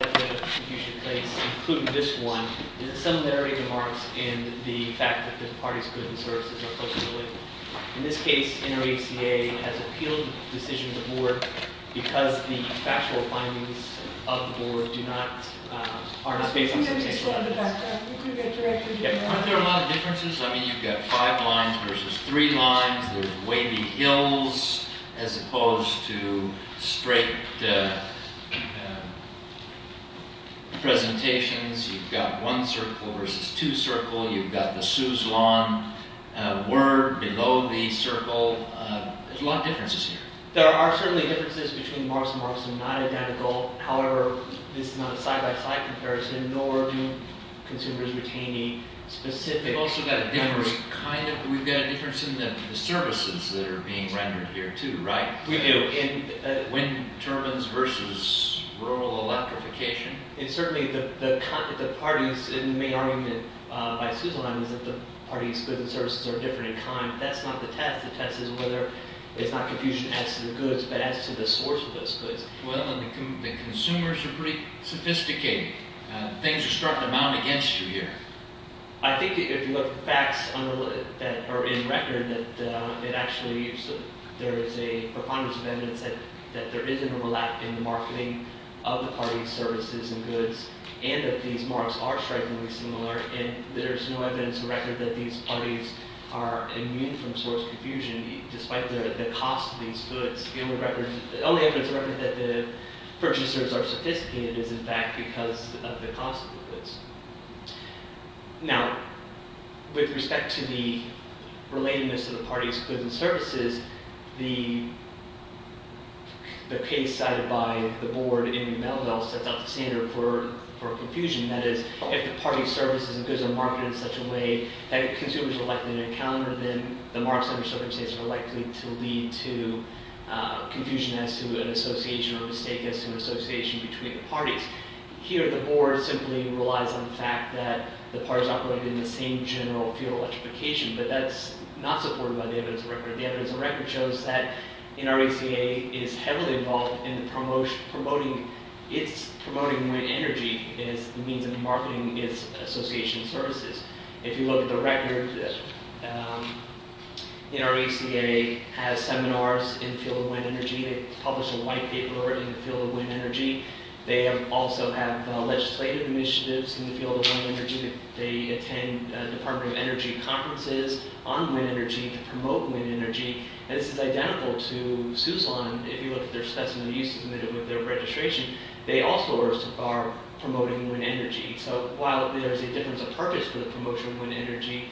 ...that you should place, including this one, is a similarity to Mark's in the fact that the party's goods and services are closer to the label. In this case, NRECA has appealed the decision to the board because the factual findings of the board do not, uh, are not based on substantial evidence. I'm going to explain the background. You can go directly to Mark. Aren't there a lot of differences? I mean, you've got five lines versus three lines. There's wavy hills as opposed to straight, uh, uh, presentations. You've got one circle versus two circles. You've got the Suzlon, uh, word below the circle. Uh, there's a lot of differences here. There are certainly differences between Mark's and Mark's. They're not identical. However, this is not a side-by-side comparison, nor do consumers retain any specific... We've also got a difference, kind of, we've got a difference in the services that are being rendered here, too, right? We do. In, uh, wind turbines versus rural electrification? It's certainly the, the, the parties, and the main argument, uh, by Suzlon is that the party's goods and services are different in kind. That's not the test. The test is whether it's not confusion as to the goods, but as to the source of those goods. Well, and the consumers are pretty sophisticated. Uh, things are starting to mount against you here. I think if you look at the facts on the, that are in record, that, uh, it actually... There is a preponderance of evidence that, that there is an overlap in the marketing of the party's services and goods, and that these Mark's are strikingly similar, and there's no evidence or record that these parties are immune from source confusion, despite the, the cost of these goods. The only record, the only evidence or record that the purchasers are sophisticated is, in fact, because of the cost of the goods. Now, with respect to the relatedness of the party's goods and services, the, the case cited by the board in Melville sets out the standard for, for confusion. That is, if the party's services and goods are marketed in such a way that consumers are likely to encounter them, the Mark's under certain circumstances are likely to lead to, uh, confusion as to an association or a mistake as to an association between the parties. Here, the board simply relies on the fact that the parties operate in the same general field of electrification, but that's not supported by the evidence or record. The evidence or record shows that NRECA is heavily involved in the promotion, promoting... It's promoting wind energy as a means of marketing its association services. If you look at the record, um, NRECA has seminars in the field of wind energy. They publish a white paper in the field of wind energy. They have, also have, uh, legislative initiatives in the field of wind energy. They attend, uh, Department of Energy conferences on wind energy to promote wind energy. And this is identical to SUSLON. If you look at their specimen, you submitted with their registration. They also are, are promoting wind energy. So, while there is a difference of purpose for the promotion of wind energy,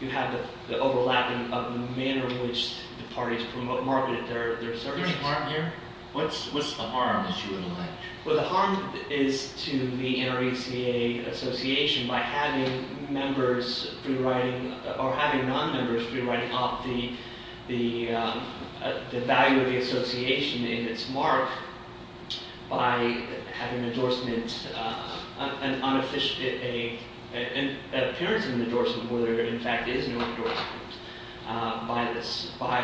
you have the, the overlapping of the manner in which the parties promote, market their, their services. What's, what's the harm, as you would imagine? Well, the harm is to the NRECA association by having members free-riding, or having non-members free-riding up the, the, uh, the value of the association in its mark by having an endorsement, uh, an unofficial, a, an appearance of an endorsement where there, in fact, is an endorsement, uh, by the, by,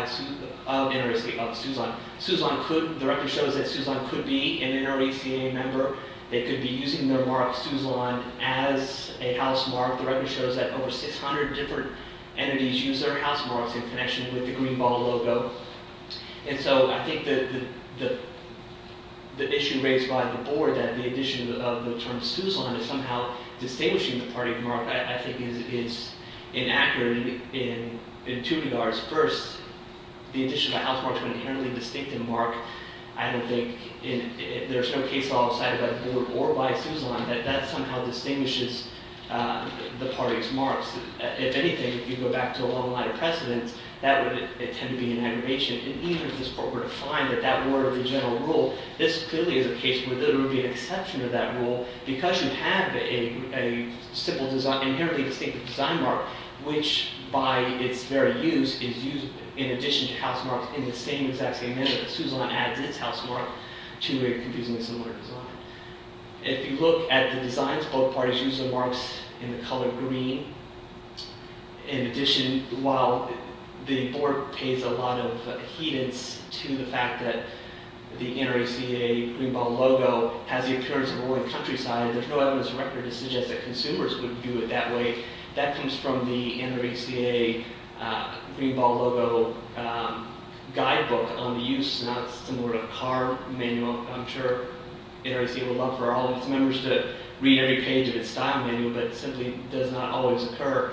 of NRECA, of SUSLON. SUSLON could, the record shows that SUSLON could be an NRECA member. They could be using their mark, SUSLON, as a house mark. The record shows that over 600 different entities use their house marks in connection with the Green Ball logo. And so, I think that the, the, the issue raised by the board, that the addition of the term SUSLON is somehow distinguishing the party mark, I, I think is, is inaccurate in, in two regards. First, the addition of a house mark to an inherently distinctive mark, I don't think, in, there's no case all decided by the board or by SUSLON that that somehow distinguishes, uh, the party's marks. If, if anything, if you go back to a long line of precedence, that would, it, it tend to be an aggravation. And even if this board were to find that that were the general rule, this clearly is a case where there would be an exception to that rule because you have a, a simple design, inherently distinctive design mark, which, by its very use, is used in addition to house marks in the same exact same manner that SUSLON adds its house mark to a confusingly similar design. If you look at the designs, both parties use their marks in the color green. In addition, while the board pays a lot of, uh, adherence to the fact that the NRECA Green Ball logo has the occurrence of a rolling countryside, there's no evidence of record to suggest that consumers would view it that way. That comes from the NRECA, uh, Green Ball logo, um, guidebook on the use. Now, it's similar to a car manual. I'm sure NRECA would love for all of its members to read every page of its style manual, but it simply does not always occur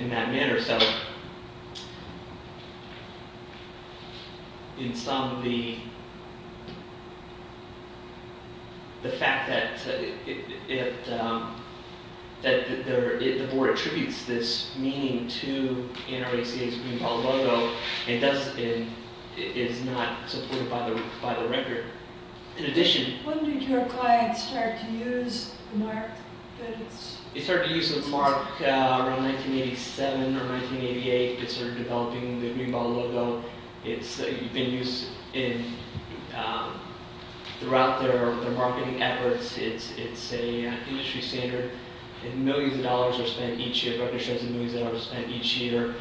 in that manner. So, in sum, the, the fact that it, it, um, that there, it, the board attributes this meaning to NRECA's Green Ball logo, it does, it, it is not supported by the, by the record. In addition... When did your client start to use the mark that it's... It started to use the mark, uh, around 1987 or 1988. It started developing the Green Ball logo. It's, uh, been used in, um, throughout their, their marketing efforts. It's, it's a, uh, industry standard. And millions of dollars are spent each year, record shows the millions of dollars spent each year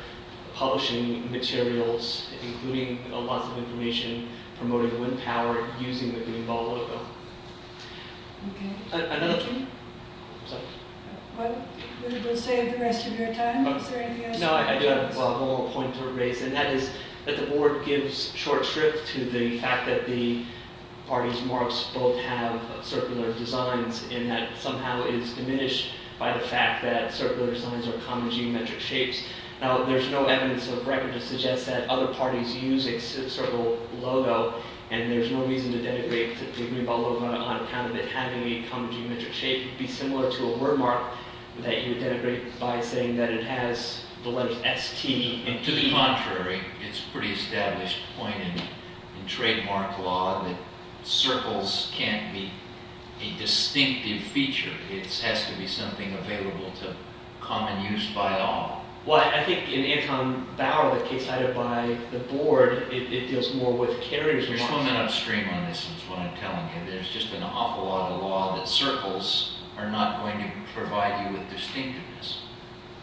publishing materials, including, uh, lots of information promoting wind power using the Green Ball logo. Okay. Uh, another... Thank you. I'm sorry. What would you like to say for the rest of your time? Is there anything else? No, I do have a whole point to raise, and that is that the board gives short shrift to the fact that the party's marks both have circular designs, and that somehow is diminished by the fact that circular designs are common geometric shapes. Now, there's no evidence of record to suggest that other parties use a circular logo, and there's no reason to denigrate the Green Ball logo on account of it having a common geometric shape. It would be similar to a wordmark that you denigrate by saying that it has the letters S, T, and E. To the contrary. It's a pretty established point in, in trademark law that circles can't be a distinctive feature. It has to be something available to common use by all. Well, I, I think in Anton Bauer, the case cited by the board, it deals more with carrier's marks. You're throwing it upstream on this, is what I'm telling you. There's just an awful lot of law that circles are not going to provide you with distinctiveness.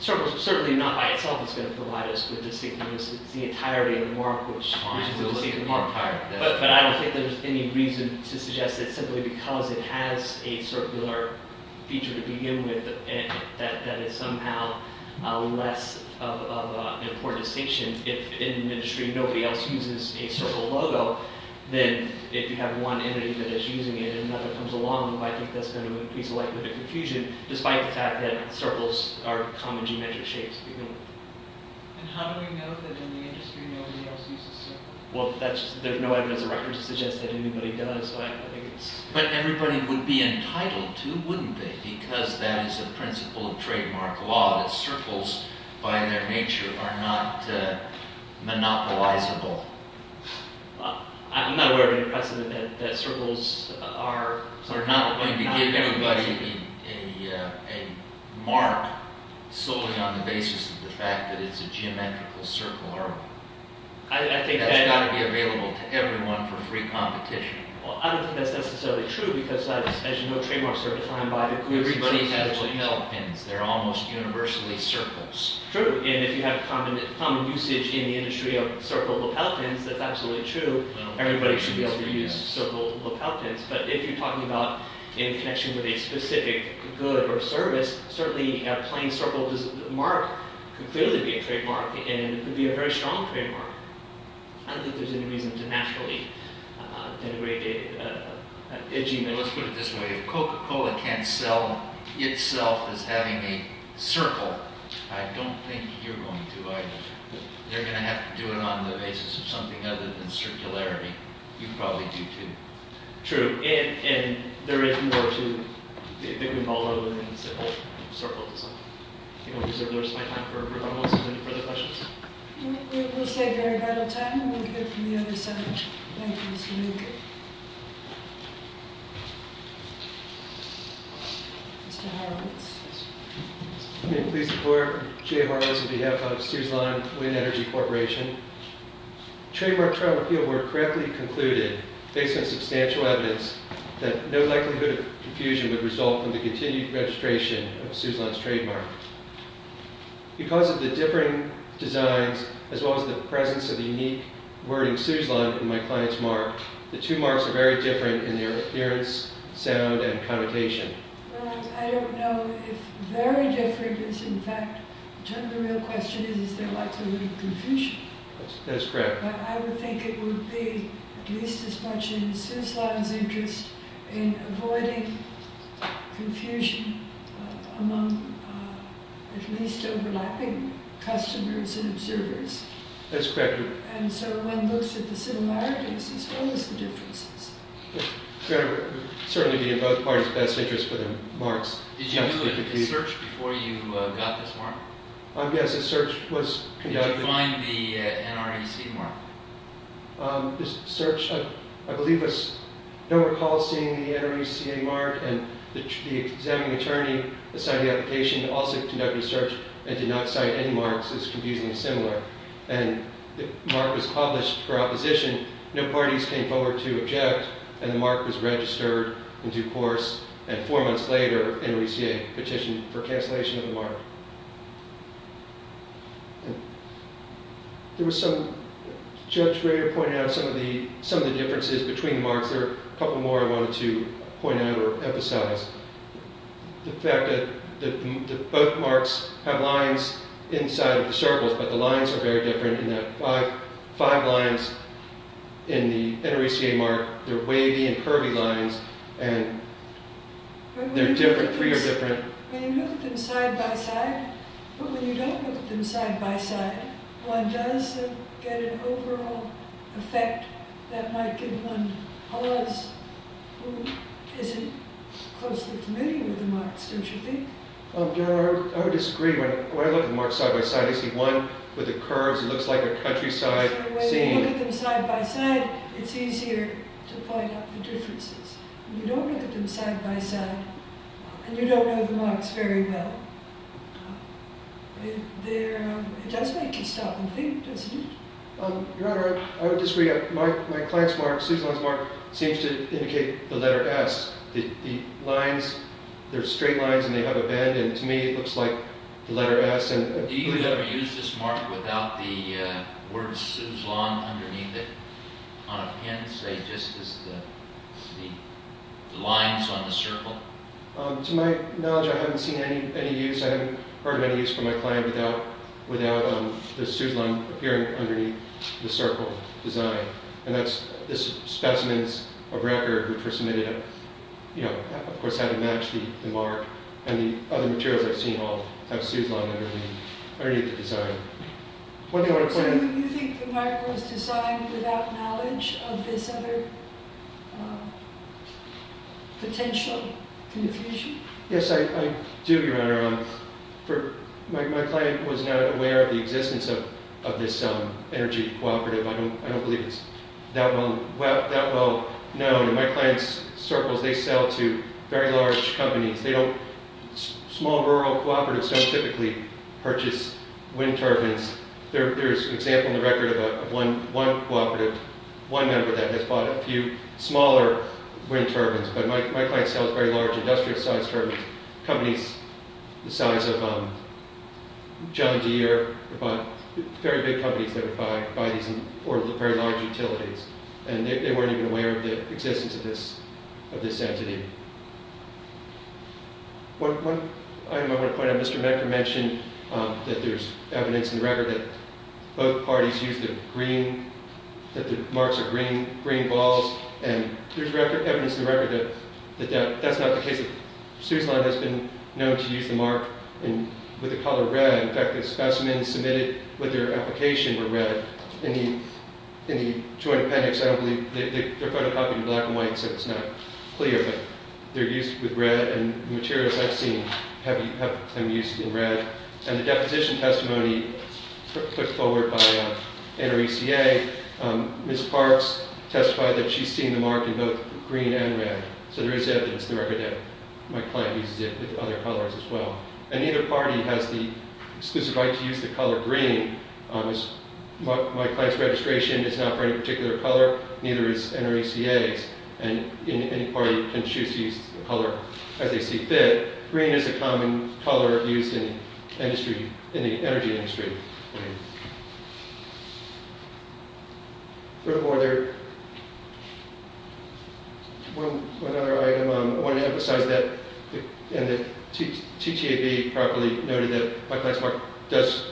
Circles, certainly not by itself is going to provide us with distinctiveness. It's the entirety of the mark, which... It's the entirety of the mark. But I don't think there's any reason to suggest that simply because it has a circular feature to begin with that it's somehow less of an important distinction if in an industry nobody else uses a circle logo than if you have one entity that is using it and another comes along. I think that's going to increase the likelihood of confusion despite the fact that circles are common geometric shapes to begin with. And how do we know that in the industry nobody else uses circles? Well, that's... There's no evidence or record to suggest that anybody does, so I don't think it's... But everybody would be entitled to, wouldn't they? Because that is a principle of trademark law that circles, by their nature, are not monopolizable. I'm not aware of any precedent that circles are... We're not going to give anybody a mark solely on the basis of the fact that it's a geometrical circle artwork. I think that... That's got to be available to everyone for free competition. Well, I don't think that's necessarily true because, as you know, trademarks are defined by... Everybody has lapeltins. They're almost universally circles. True. And if you have common usage in the industry of circle lapeltins, that's absolutely true. Everybody should be able to use circle lapeltins. But if you're talking about in connection with a specific good or service, certainly a plain circle mark could clearly be a trademark and could be a very strong trademark. I don't think there's any reason to naturally denigrate it. Let's put it this way. If Coca-Cola can't sell itself as having a circle, I don't think you're going to either. They're going to have to do it on the basis of something other than circularity. You probably do, too. True. And there is more to... I think we've all learned that it's a whole circle design. I think I'm going to reserve my time for if anyone has any further questions. We'll save your vital time and we'll go from the other side. Thank you, Mr. Newgate. Mr. Horowitz. May I please report? Jay Horowitz on behalf of Suzlon Wind Energy Corporation. Trademark trial appeal work correctly concluded, based on substantial evidence, that no likelihood of confusion would result from the continued registration of Suzlon's trademark. Because of the different designs, as well as the presence of the unique wording Suzlon in my client's mark, the two marks are very different in their appearance, sound, and connotation. Well, I don't know if very different is in fact... The real question is, is there likelihood of confusion? That's correct. But I would think it would be at least as much in Suzlon's interest in avoiding confusion among at least overlapping customers and observers. That's correct. And so one looks at the similarities as well as the differences. It would certainly be in both parties' best interest for the marks not to be confused. Did you do a search before you got this mark? Yes, a search was conducted. Did you find the NRECA mark? This search, I believe, was... No recall of seeing the NRECA mark, and the examining attorney that signed the application also conducted a search and did not cite any marks as confusingly similar. And the mark was published for opposition. No parties came forward to object, and the mark was registered in due course. And four months later, NRECA petitioned for cancellation of the mark. There was some... Judge Rader pointed out some of the differences between the marks. There are a couple more I wanted to point out or emphasize. The fact that both marks have lines inside of the circles, but the lines are very different. In the five lines in the NRECA mark, they're wavy and curvy lines, and they're different, three are different. When you look at them side by side, but when you don't look at them side by side, one does get an overall effect that might give one pause who isn't closely familiar with the marks, don't you think? I would disagree. When I look at the marks side by side, I see one with the curves. It looks like a countryside scene. When you look at them side by side, it's easier to point out the differences. When you don't look at them side by side, and you don't know the marks very well, it does make you stop and think, doesn't it? Your Honor, I would disagree. My client's mark, Suzanne's mark, seems to indicate the letter S. The lines, they're straight lines and they have a bend, and to me it looks like the letter S. Do you ever use this mark without the word Suzanne underneath it on a pen, say just as the lines on the circle? To my knowledge, I haven't seen any use, I haven't heard of any use from my client without the Suzanne appearing underneath the circle design. And that's the specimens of record which were submitted, of course how to match the mark, and the other materials I've seen all have Suzanne underneath the design. So you think the mark was designed without knowledge of this other potential confusion? Yes, I do, Your Honor. My client was not aware of the existence of this energy cooperative. I don't believe it's that well known. My client's circles, they sell to very large companies. Small, rural cooperatives don't typically purchase wind turbines. There's an example in the record of one cooperative, one member of that has bought a few smaller wind turbines, but my client sells very large industrial sized turbines. Companies the size of John Deere, very big companies that buy these very large utilities. And they weren't even aware of the existence of this entity. One item I want to point out, Mr. Medgar mentioned that there's evidence in the record that both parties used the green, that the marks are green balls, and there's evidence in the record that that's not the case. Suzanne has been known to use the mark with the color red. In fact, the specimens submitted with their application were red. In the joint appendix, I don't believe, they're photocopied in black and white, so it's not clear, but they're used with red, and the materials I've seen have them used in red. And the deposition testimony put forward by NRECA, Ms. Parks testified that she's seen the mark in both green and red. So there is evidence in the record that my client uses it with other colors as well. And neither party has the exclusive right to use the color green. My client's registration is not for any particular color, neither is NRECA's, and any party can choose to use the color as they see fit. Green is a common color used in the energy industry. Furthermore, there's one other item. I want to emphasize that the TTAB properly noted that my client's mark does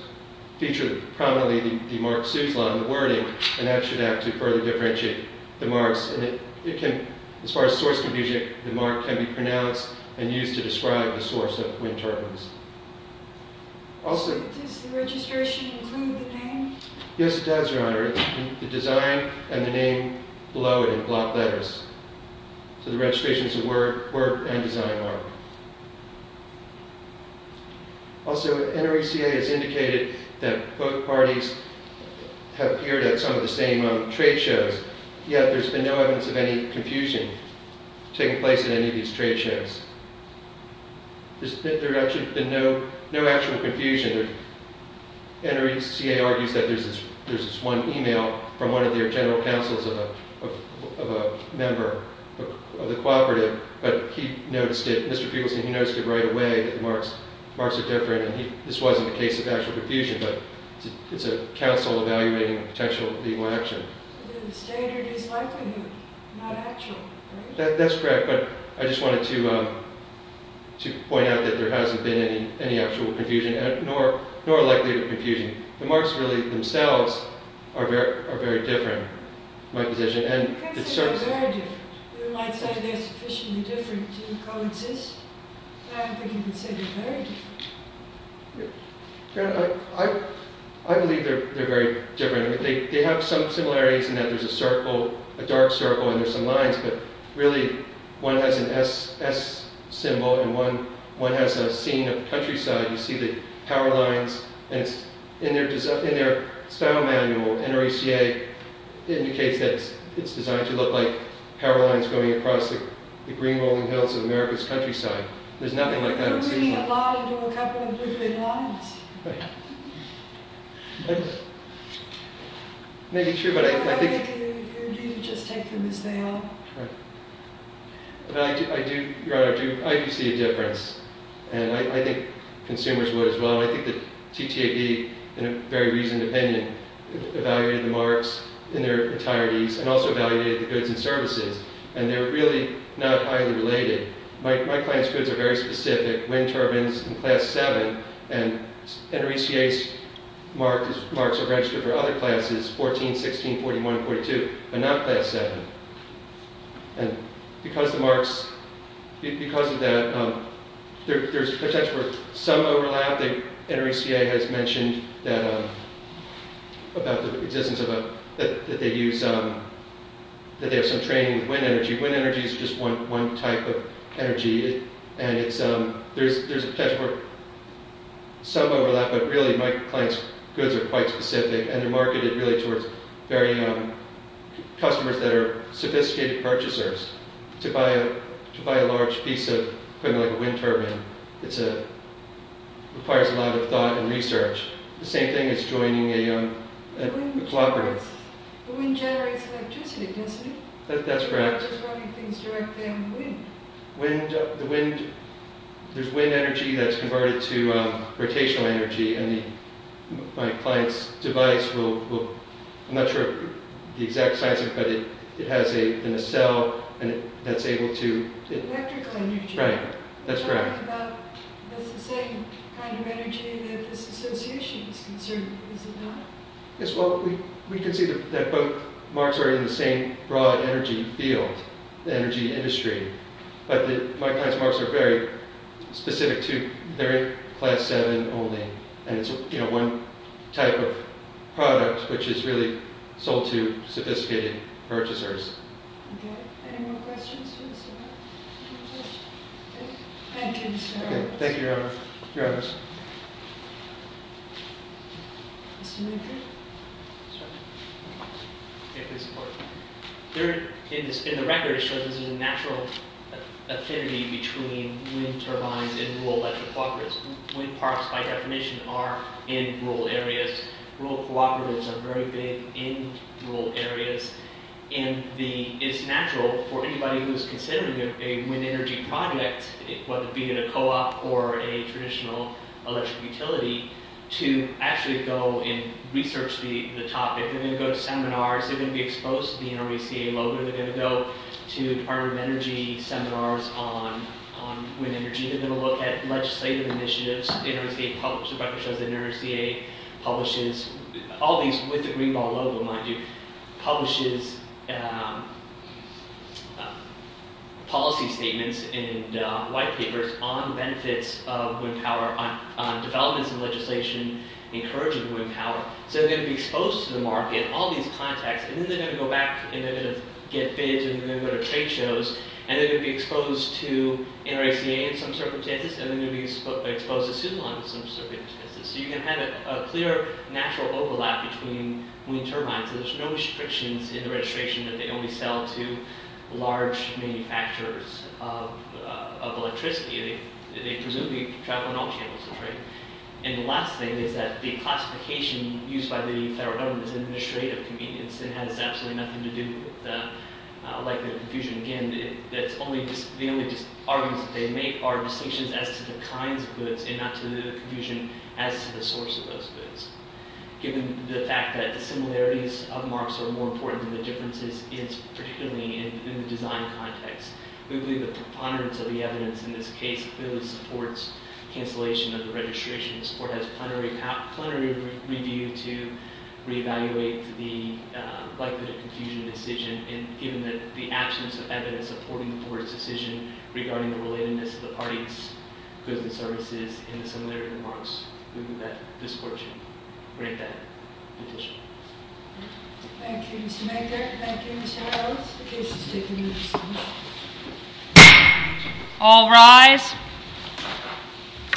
feature prominently the mark Suzanne in the wording, and that should act to further differentiate the marks. As far as source confusion, the mark can be pronounced and used to describe the source of wind turbulence. Does the registration include the name? Yes, it does, Your Honor. The design and the name below it in block letters. So the registration is a word and design mark. Also, NRECA has indicated that both parties have appeared at some of the same trade shows, yet there's been no evidence of any confusion taking place at any of these trade shows. There's actually been no actual confusion. NRECA argues that there's this one email from one of their general counsels of a member of the cooperative, but he noticed it, Mr. Fugleson, he noticed it right away, that the marks are different, and this wasn't a case of actual confusion, but it's a counsel evaluating a potential legal action. The standard is likely not actual, right? That's correct, but I just wanted to point out that there hasn't been any actual confusion, nor a likelihood of confusion. The marks really themselves are very different, in my position. You can't say they're very different. You might say they're sufficiently different to co-exist, but I don't think you can say they're very different. Your Honor, I believe they're very different. They have some similarities in that there's a circle, a dark circle, and there's some lines, but really, one has an S symbol, and one has a scene of the countryside. You see the power lines, and in their style manual, NRECA indicates that it's designed to look like power lines going across the green rolling hills of America's countryside. There's nothing like that. We're reading a line or a couple of blue-green lines. It may be true, but I think... Your Honor, do you just take them as they are? Your Honor, I do see a difference, and I think consumers would as well. I think that TTAB, in a very reasoned opinion, evaluated the marks in their entireties and also evaluated the goods and services, and they're really not highly related. My client's goods are very specific. Wind turbines in Class VII, and NRECA's marks are registered for other classes, 14, 16, 41, and 42, but not Class VII. Because of that, there's potential for some overlap. NRECA has mentioned that they have some training with wind energy. Wind energy is just one type of energy, and there's a potential for some overlap, but really, my client's goods are quite specific, and they're marketed really towards customers that are sophisticated purchasers. To buy a large piece of equipment like a wind turbine requires a lot of thought and research. The same thing as joining a cooperative. The wind generates electricity, doesn't it? That's correct. You're not just running things directly on the wind. There's wind energy that's converted to rotational energy, and my client's device will... I'm not sure of the exact size of it, but it has a nacelle that's able to... Electrical energy. Right. That's correct. It's the same kind of energy that this association is concerned with, is it not? Yes, well, we can see that both marks are in the same broad energy field, the energy industry. But my client's marks are very specific to... They're in Class VII only, and it's one type of product which is really sold to sophisticated purchasers. Any more questions? Thank you, sir. Thank you, Your Honor. Your Honor. In the record, it shows there's a natural affinity between wind turbines and rural electric cooperatives. Wind parks, by definition, are in rural areas. Rural cooperatives are very big in rural areas, and it's natural for anybody who's considering a wind energy project, whether it be at a co-op or a traditional electric utility, to actually go and research the topic. They're going to go to seminars. They're going to be exposed to the NRECA logo. They're going to go to the Department of Energy seminars on wind energy. They're going to look at legislative initiatives. The NRECA publishes... ...on benefits of wind power, on developments in legislation encouraging wind power. So they're going to be exposed to the market, all these contexts, and then they're going to go back, and they're going to get bids, and they're going to go to trade shows, and they're going to be exposed to NRECA in some circumstances, and they're going to be exposed to Sumon in some circumstances. So you can have a clear, natural overlap between wind turbines. There's no restrictions in the registration that they only sell to large manufacturers of electricity. They presumably travel on all channels of trade. And the last thing is that the classification used by the federal government is administrative convenience. It has absolutely nothing to do with the likelihood of confusion. Again, the only arguments that they make are distinctions as to the kinds of goods and not to the confusion as to the source of those goods. Given the fact that the similarities of marks are more important than the differences, it's particularly in the design context. We believe the preponderance of the evidence in this case clearly supports cancellation of the registration. This Court has plenary review to reevaluate the likelihood of confusion decision, and given the absence of evidence supporting the Court's decision regarding the relatedness of the parties' goods and services in the similarity of the marks, we move that this Court should bring that petition.